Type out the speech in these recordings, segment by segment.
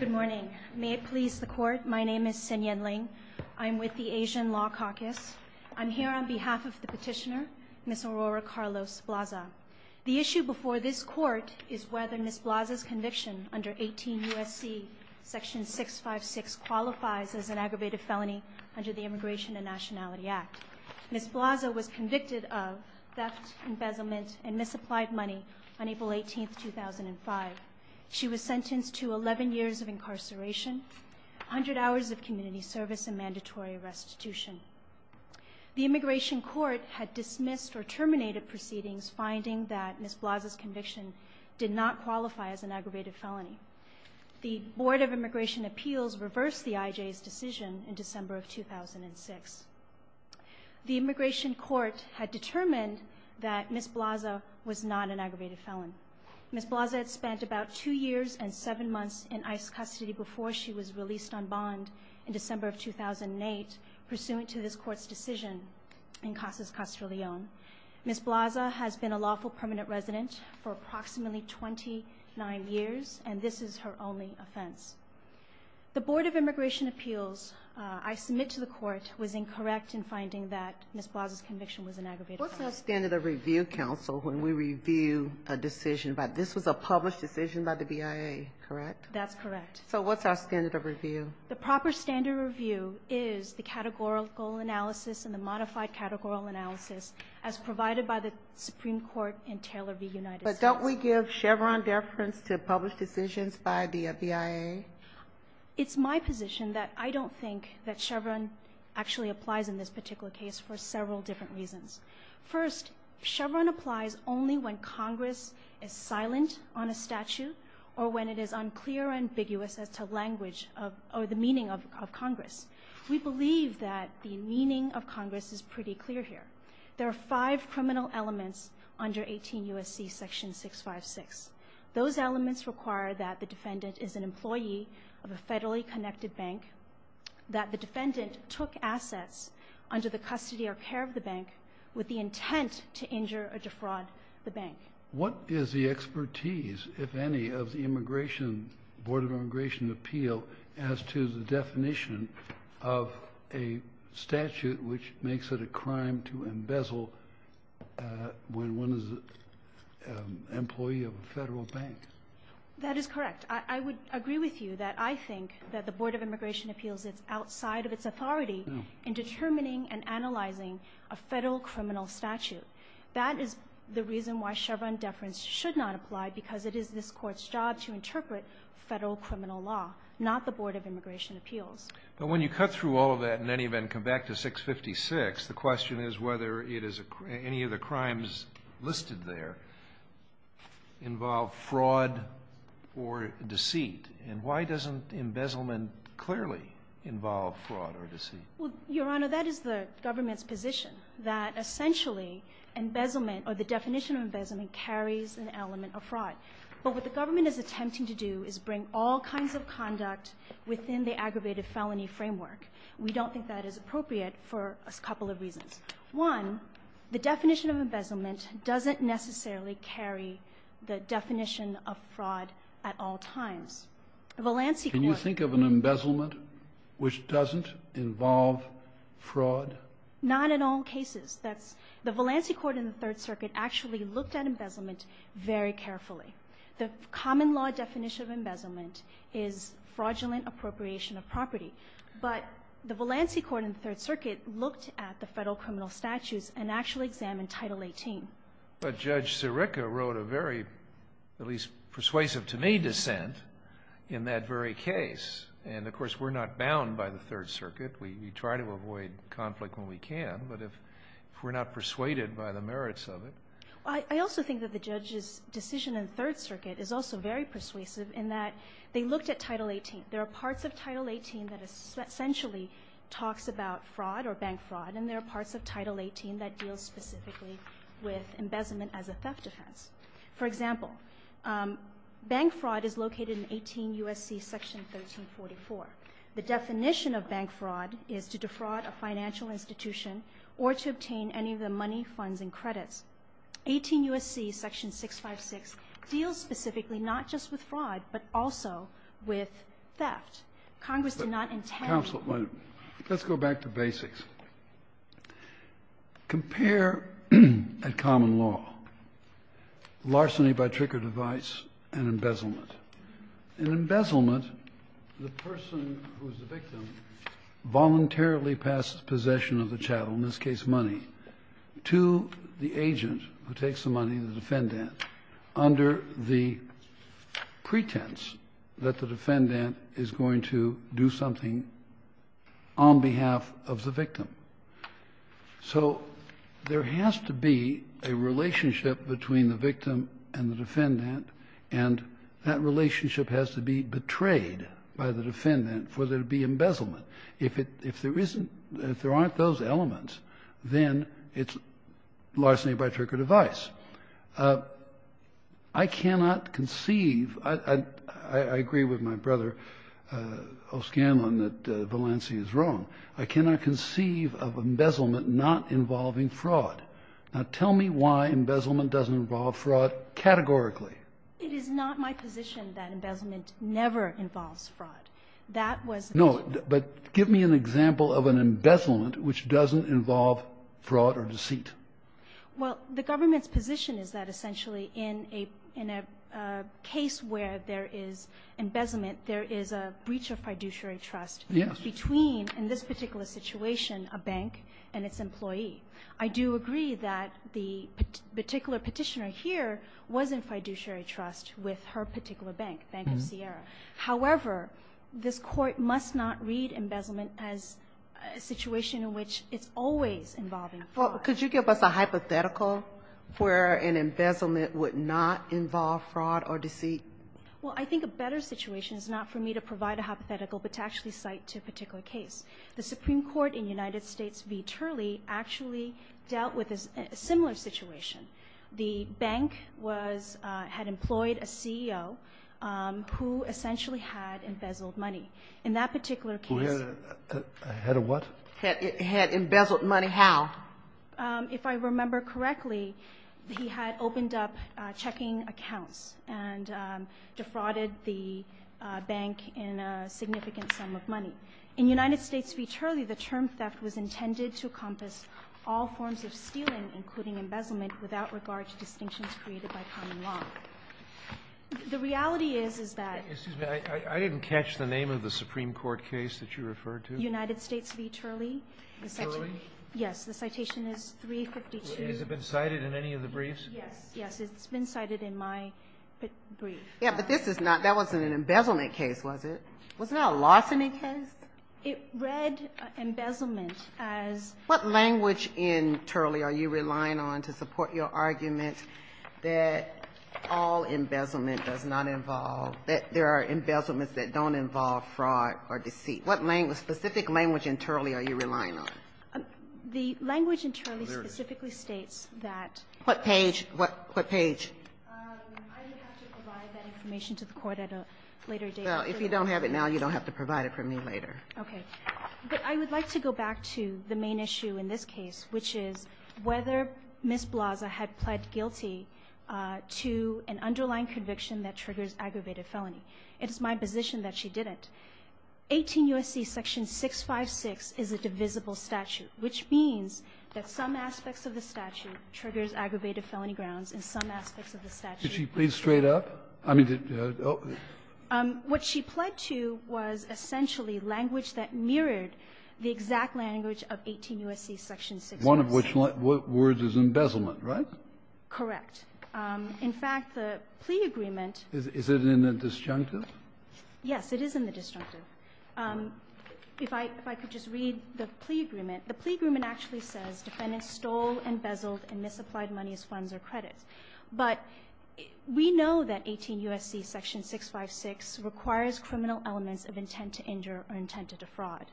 Good morning. May it please the court, my name is Sin Yen Ling. I'm with the Asian Law Caucus. I'm here on behalf of the petitioner, Ms. Aurora Carlos-Blaza. The issue before this court is whether Ms. Blaza's conviction under 18 U.S.C. section 656 qualifies as an aggravated felony under the Immigration and Nationality Act. Ms. Blaza was convicted of theft, embezzlement, and misapplied money on April 18, 2005. She was sentenced to 11 years of incarceration, 100 hours of community service, and mandatory restitution. The Immigration Court had dismissed or terminated proceedings finding that Ms. Blaza's conviction did not qualify as an aggravated felony. The Board of Immigration Appeals reversed the IJ's decision in December of 2006. The Immigration Court had determined that Ms. Blaza was not an aggravated felon. Ms. Blaza had spent about two years and seven months in ICE custody before she was released on bond in December of 2008, pursuant to this court's decision in Casas Castrillon. Ms. Blaza has been a lawful permanent resident for approximately 29 years and this is her only offense. The Board of Immigration Appeals, I submit to the court, was incorrect in finding that Ms. Blaza's conviction was an aggravated felony. What's our standard of review, counsel, when we review a decision? This was a published decision by the BIA, correct? That's correct. So what's our standard of review? The proper standard review is the categorical analysis and the modified categorical analysis as provided by the Supreme Court and Taylor v. United States. But don't we give Chevron deference to published decisions by the BIA? It's my position that I don't think that Chevron actually applies in this particular case for several different reasons. First, Chevron applies only when Congress is silent on a statute or when it is unclear and ambiguous as to language of or the meaning of Congress. We believe that the meaning of Congress is pretty clear here. There are five criminal elements under 18 U.S.C. section 656. Those elements require that the defendant is an employee of a federally connected bank, that the defendant took assets under the custody or care of the bank with the intent to injure or defraud the bank. What is the expertise, if any, of the Immigration Board of Immigration Appeal as to the definition of a statute which makes it a crime to embezzle when one is an employee of a federal bank? That is correct. I would agree with you that I think that the Board of Immigration Appeals is outside of its authority in determining and analyzing a federal criminal statute. That is the reason why Chevron deference should not apply, because it is this Court's job to interpret federal criminal law, not the Board of Immigration Appeals. But when you cut through all of that and then even come back to 656, the question is whether it is any of the crimes listed there involve fraud or deceit. And why doesn't embezzlement clearly involve fraud or deceit? Well, Your Honor, that is the government's position, that essentially embezzlement or the definition of embezzlement carries an element of fraud. But what the government is attempting to do is bring all kinds of conduct within the aggravated felony framework. We don't think that is appropriate for a couple of reasons. One, the definition of embezzlement doesn't necessarily carry the definition of fraud at all times. The Valancey Court... Can you think of an embezzlement which doesn't involve fraud? Not in all cases. The Valancey Court in the Third Circuit actually looked at embezzlement very carefully. The common law definition of embezzlement is fraudulent appropriation of statutes and actually examined Title 18. But Judge Sirica wrote a very, at least persuasive to me, dissent in that very case. And of course, we're not bound by the Third Circuit. We try to avoid conflict when we can. But if we're not persuaded by the merits of it... I also think that the judge's decision in the Third Circuit is also very persuasive in that they looked at Title 18. There are parts of Title 18 that essentially talks about fraud or bank fraud, and there are parts of Title 18 that deal specifically with embezzlement as a theft offense. For example, bank fraud is located in 18 U.S.C. Section 1344. The definition of bank fraud is to defraud a financial institution or to obtain any of the money, funds, and credits. 18 U.S.C. Section 656 deals specifically not just with fraud, but also with theft. Congress did not intend... Let's go back to basics. Compare, at common law, larceny by trick or device and embezzlement. In embezzlement, the person who's the victim voluntarily passes possession of the chattel, in this case money, to the agent who takes the money, the defendant, under the pretense that the defendant is going to do something on behalf of the victim. So there has to be a relationship between the victim and the defendant, and that relationship has to be betrayed by the defendant for there to be embezzlement. If there isn't, if there aren't those elements, then it's larceny by trick or device. I cannot conceive, I agree with my brother, O'Scanlan, that Valanci is wrong. I cannot conceive of embezzlement not involving fraud. Now tell me why embezzlement doesn't involve fraud categorically. It is not my position that embezzlement never involves fraud. That was... No, but give me an example of an embezzlement which doesn't involve fraud or deceit. Well, the government's position is that essentially in a case where there is embezzlement, there is a breach of fiduciary trust between, in this particular situation, a bank and its employee. I do agree that the particular petitioner here was in fiduciary trust with her particular bank, Bank of Sierra. However, this Court must not read embezzlement as a situation in which it's always involving fraud. Well, could you give us a hypothetical where an embezzlement would not involve fraud or deceit? Well, I think a better situation is not for me to provide a hypothetical, but to actually cite to a particular case. The Supreme Court in United States v. Turley actually dealt with a similar situation. The bank had employed a CEO who essentially had embezzled money. In that particular case... Who had a what? Had embezzled money how? If I remember correctly, he had opened up checking accounts and defrauded the bank in a significant sum of money. In United States v. Turley, the term theft was intended to encompass all forms of stealing, including embezzlement, without regard to distinctions created by common law. The reality is, is that... Excuse me. I didn't catch the name of the Supreme Court case that you referred to. United States v. Turley. Turley? Yes. The citation is 352. Has it been cited in any of the briefs? Yes. Yes. It's been cited in my brief. Yeah, but this is not, that wasn't an embezzlement case, was it? Wasn't that a lawsuit case? It read embezzlement as... What language in Turley are you relying on to support your argument that all embezzlement does not involve, that there are embezzlements that don't involve fraud or deceit? What specific language in Turley are you relying on? The language in Turley specifically states that... What page? What page? I would have it now. You don't have to provide it for me later. Okay. But I would like to go back to the main issue in this case, which is whether Ms. Blaza had pled guilty to an underlying conviction that triggers aggravated felony. It is my position that she didn't. 18 U.S.C. section 656 is a divisible statute, which means that some aspects of the statute triggers aggravated felony grounds and some aspects of the statute... Kennedy, did she plead straight up? I mean, did the other... What she pled to was essentially language that mirrored the exact language of 18 U.S.C. section 656. One of which words is embezzlement, right? Correct. In fact, the plea agreement... Is it in the disjunctive? Yes, it is in the disjunctive. If I could just read the plea agreement. The plea agreement actually says defendants stole, embezzled, and misapplied money as funds or credits. But we know that 18 U.S.C. section 656 requires criminal elements of intent to injure or intent to defraud.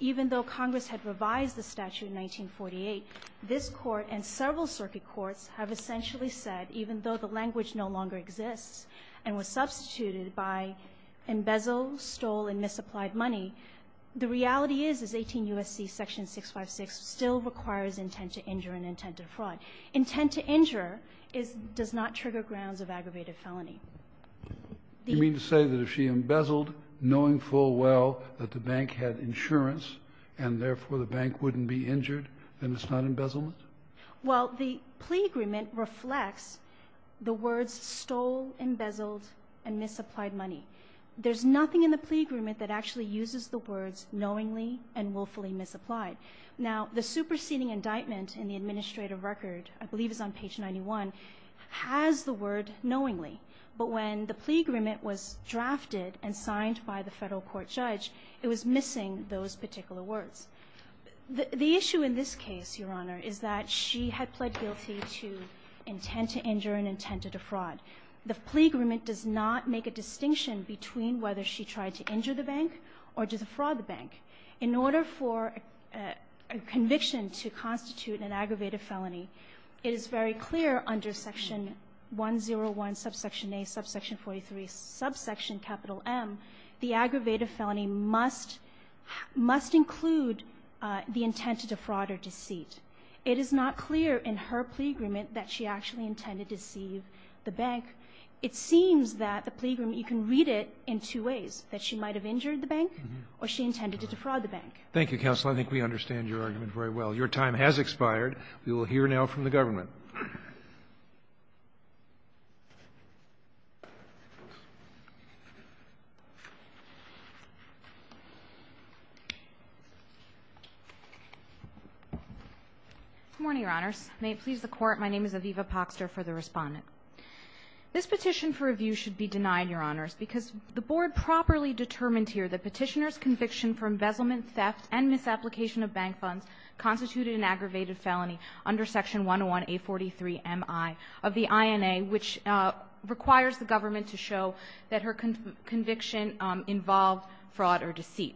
Even though Congress had revised the statute in 1948, this Court and several circuit courts have essentially said, even though the language no longer exists and was substituted by embezzle, stole, and misapplied money, the reality is 18 U.S.C. section 656 still requires intent to injure and intent to defraud. Intent to injure does not trigger grounds of aggravated felony. You mean to say that if she embezzled, knowing full well that the bank had insurance and therefore the bank wouldn't be injured, then it's not embezzlement? Well, the plea agreement reflects the words stole, embezzled, and misapplied money. There's nothing in the plea agreement that actually uses the words knowingly and willfully misapplied. Now, the superseding indictment in the administrative record, I believe it's on page 91, has the word knowingly. But when the plea agreement was drafted and signed by the federal court judge, it was missing those particular words. The issue in this case, Your Honor, is that she had pled guilty to intent to defraud the bank. In order for a conviction to constitute an aggravated felony, it is very clear under section 101, subsection A, subsection 43, subsection capital M, the aggravated felony must include the intent to defraud or deceit. It is not clear in her plea agreement that she actually intended to deceive the bank. It seems that the plea agreement does not read it in two ways, that she might have injured the bank or she intended to defraud the bank. Thank you, counsel. I think we understand your argument very well. Your time has expired. We will hear now from the government. Good morning, Your Honors. May it please the Court, my name is Aviva Poxter for the Court of Appeals, and I would like to ask you a question, Your Honors, because the Board properly determined here that Petitioner's conviction for embezzlement, theft, and misapplication of bank funds constituted an aggravated felony under section 101A43MI of the INA, which requires the government to show that her conviction involved fraud or deceit.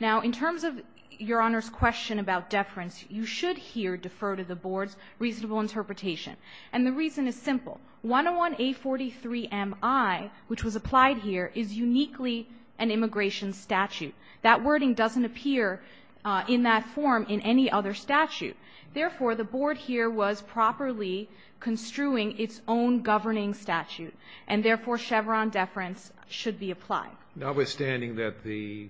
Now, in terms of Your Honor's question about deference, you should here defer to the Board's reasonable interpretation. And the reason is simple. 101A43MI, which was applied here, is uniquely an immigration statute. That wording doesn't appear in that form in any other statute. Therefore, the Board here was properly construing its own governing statute, and therefore Chevron deference should be applied. Notwithstanding that the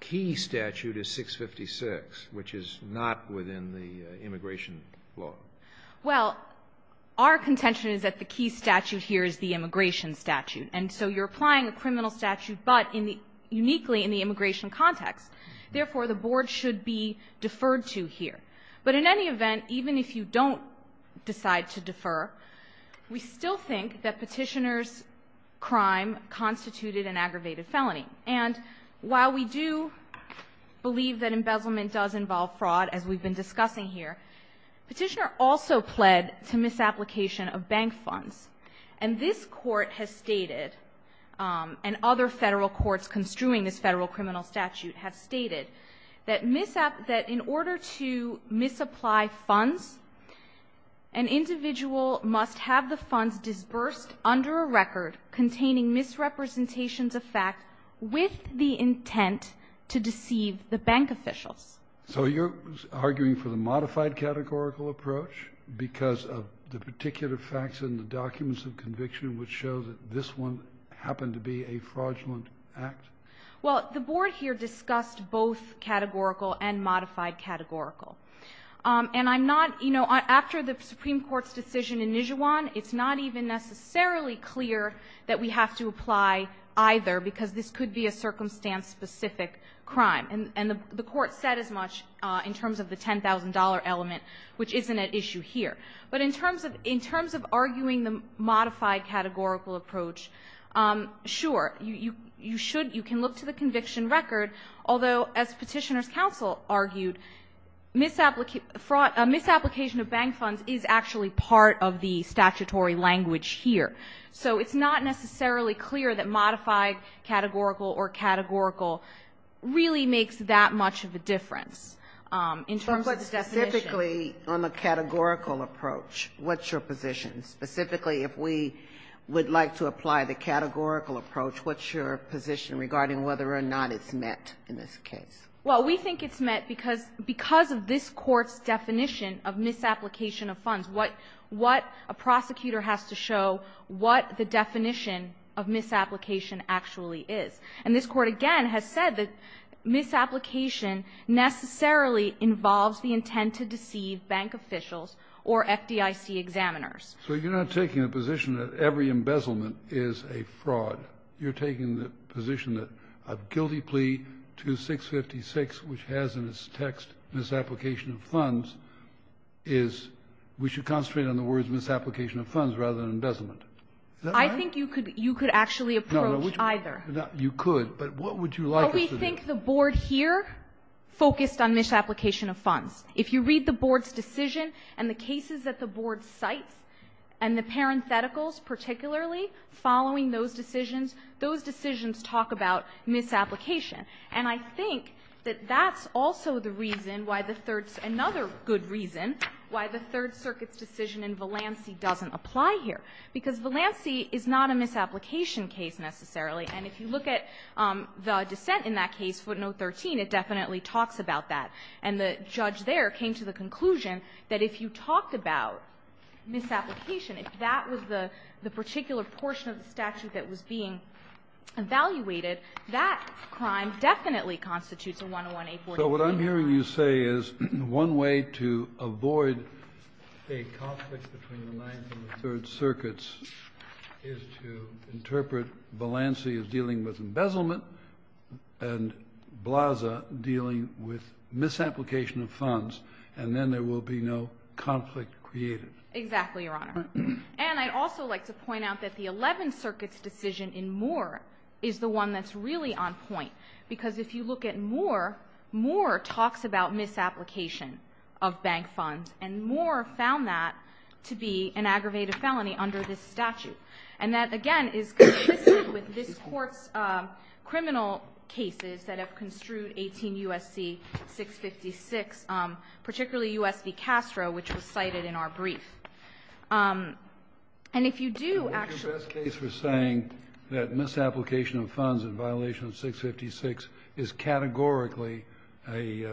key statute is 656, which is not within the immigration law. Well, our contention is that the key statute here is the immigration statute. And so you're applying a criminal statute, but uniquely in the immigration context. Therefore, the Board should be deferred to here. But in any event, even if you don't decide to defer, we still think that Petitioner's crime constituted an aggravated felony. And while we do believe that embezzlement does involve fraud, as we've been discussing here, Petitioner also pled to misapplication of bank funds. And this Court has stated, and other Federal courts construing this Federal criminal statute have stated, that in order to misapply funds, an individual must have the qualifications of fact with the intent to deceive the bank officials. So you're arguing for the modified categorical approach because of the particular facts in the documents of conviction which show that this one happened to be a fraudulent act? Well, the Board here discussed both categorical and modified categorical. And I'm not, you know, after the Supreme Court's decision in Nijuan, it's not even necessarily clear that we have to apply either because this could be a circumstance specific crime. And the Court said as much in terms of the $10,000 element, which isn't at issue here. But in terms of arguing the modified categorical approach, sure, you should, you can look to the conviction record. Although, as Petitioner's counsel argued, misapplication of bank funds is actually part of the statutory language here. So it's not necessarily clear that modified categorical or categorical really makes that much of a difference in terms of the definition. But specifically on the categorical approach, what's your position? Specifically if we would like to apply the categorical approach, what's your position regarding whether or not it's met in this case? Well, we think it's met because of this Court's definition of misapplication of funds. What a prosecutor has to show, what the definition of misapplication actually is. And this Court, again, has said that misapplication necessarily involves the intent to deceive bank officials or FDIC examiners. So you're not taking a position that every embezzlement is a fraud. You're taking the position that a guilty plea to 656, which has in its text misapplication of funds, is we should concentrate on the words misapplication of funds rather than embezzlement. Is that right? I think you could actually approach either. You could. But what would you like us to do? Well, we think the Board here focused on misapplication of funds. If you read the Board's decision and the cases that the Board cites and the parentheticals particularly following those decisions, those decisions talk about misapplication. And I think that that's also the reason why the Third Circuit's decision in Valancey doesn't apply here, because Valancey is not a misapplication case necessarily. And if you look at the dissent in that case, footnote 13, it definitely talks about that. And the judge there came to the conclusion that if you talked about misapplication, if that was the particular portion of the statute that was being evaluated, that crime definitely constitutes a 101-A-42. So what I'm hearing you say is one way to avoid a conflict between the Ninth and the Third Circuits is to interpret Valancey as dealing with embezzlement and Blaza dealing with misapplication of funds, and then there will be no conflict created. Exactly, Your Honor. And I'd also like to point out that the Eleventh Circuit's decision in Moore is the one that's really on point, because if you look at Moore, Moore talks about misapplication of bank funds, and Moore found that to be an aggravated felony under this statute. And that, again, is consistent with this Court's criminal cases that have construed 18 U.S.C. 656, particularly U.S. v. Castro, which was cited in our case. And if you do actually ---- And what's your best case for saying that misapplication of funds in violation of 656 is categorically a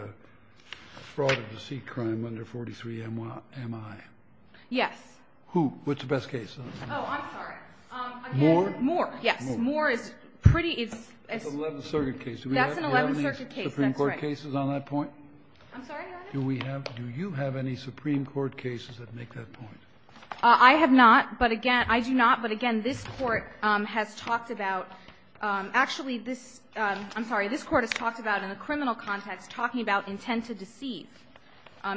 fraud or deceit crime under 43 M.I.? Yes. Who? What's the best case? Oh, I'm sorry. Moore? Moore, yes. Moore is pretty as ---- That's an Eleventh Circuit case. That's an Eleventh Circuit case, that's right. Do we have any Supreme Court cases on that point? I'm sorry, Your Honor? Do we have? Do you have any Supreme Court cases that make that point? I have not. But, again, I do not. But, again, this Court has talked about ---- actually, this ---- I'm sorry. This Court has talked about, in a criminal context, talking about intent to deceive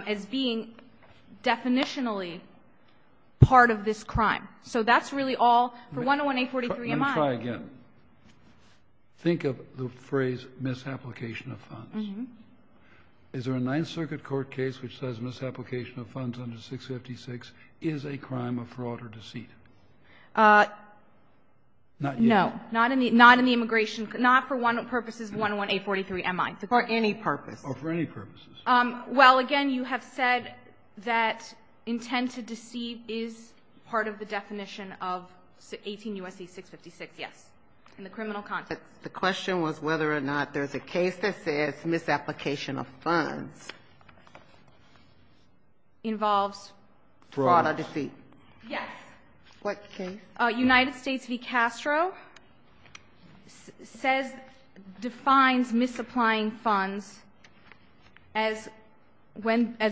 as being definitionally part of this crime. So that's really all. For 101-843-M.I. Let me try again. Think of the phrase, misapplication of funds. Is there a Ninth Circuit court case which says misapplication of funds under 656 is a crime of fraud or deceit? Not yet. No. Not in the immigration ---- not for purposes of 101-843-M.I. For any purpose. Oh, for any purposes. Well, again, you have said that intent to deceive is part of the definition of 18 U.S.C. 656, yes, in the criminal context. The question was whether or not there's a case that says misapplication of funds involves fraud. Fraud or deceit? Yes. What case? United States v. Castro says ---- defines misapplying funds as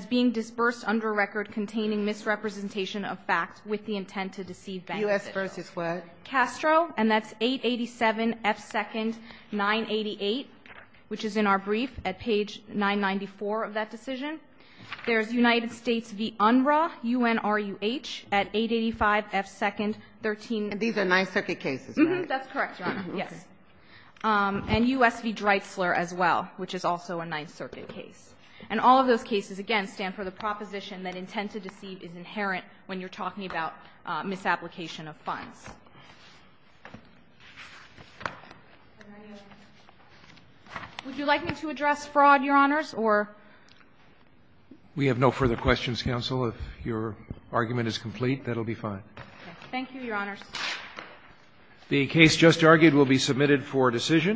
being disbursed under a record containing misrepresentation of facts with the intent to deceive benefit. U.S. v. what? Castro, and that's 887 F. 2nd 988, which is in our brief at page 994 of that decision. There's United States v. Unruh, U-N-R-U-H, at 885 F. 2nd 13. These are Ninth Circuit cases, right? That's correct, Your Honor. Yes. And U.S. v. Dreitzler as well, which is also a Ninth Circuit case. And all of those cases, again, stand for the proposition that intent to deceive is inherent when you're talking about misapplication of funds. Would you like me to address fraud, Your Honors? We have no further questions, counsel. If your argument is complete, that will be fine. Thank you, Your Honors. The case just argued will be submitted for decision.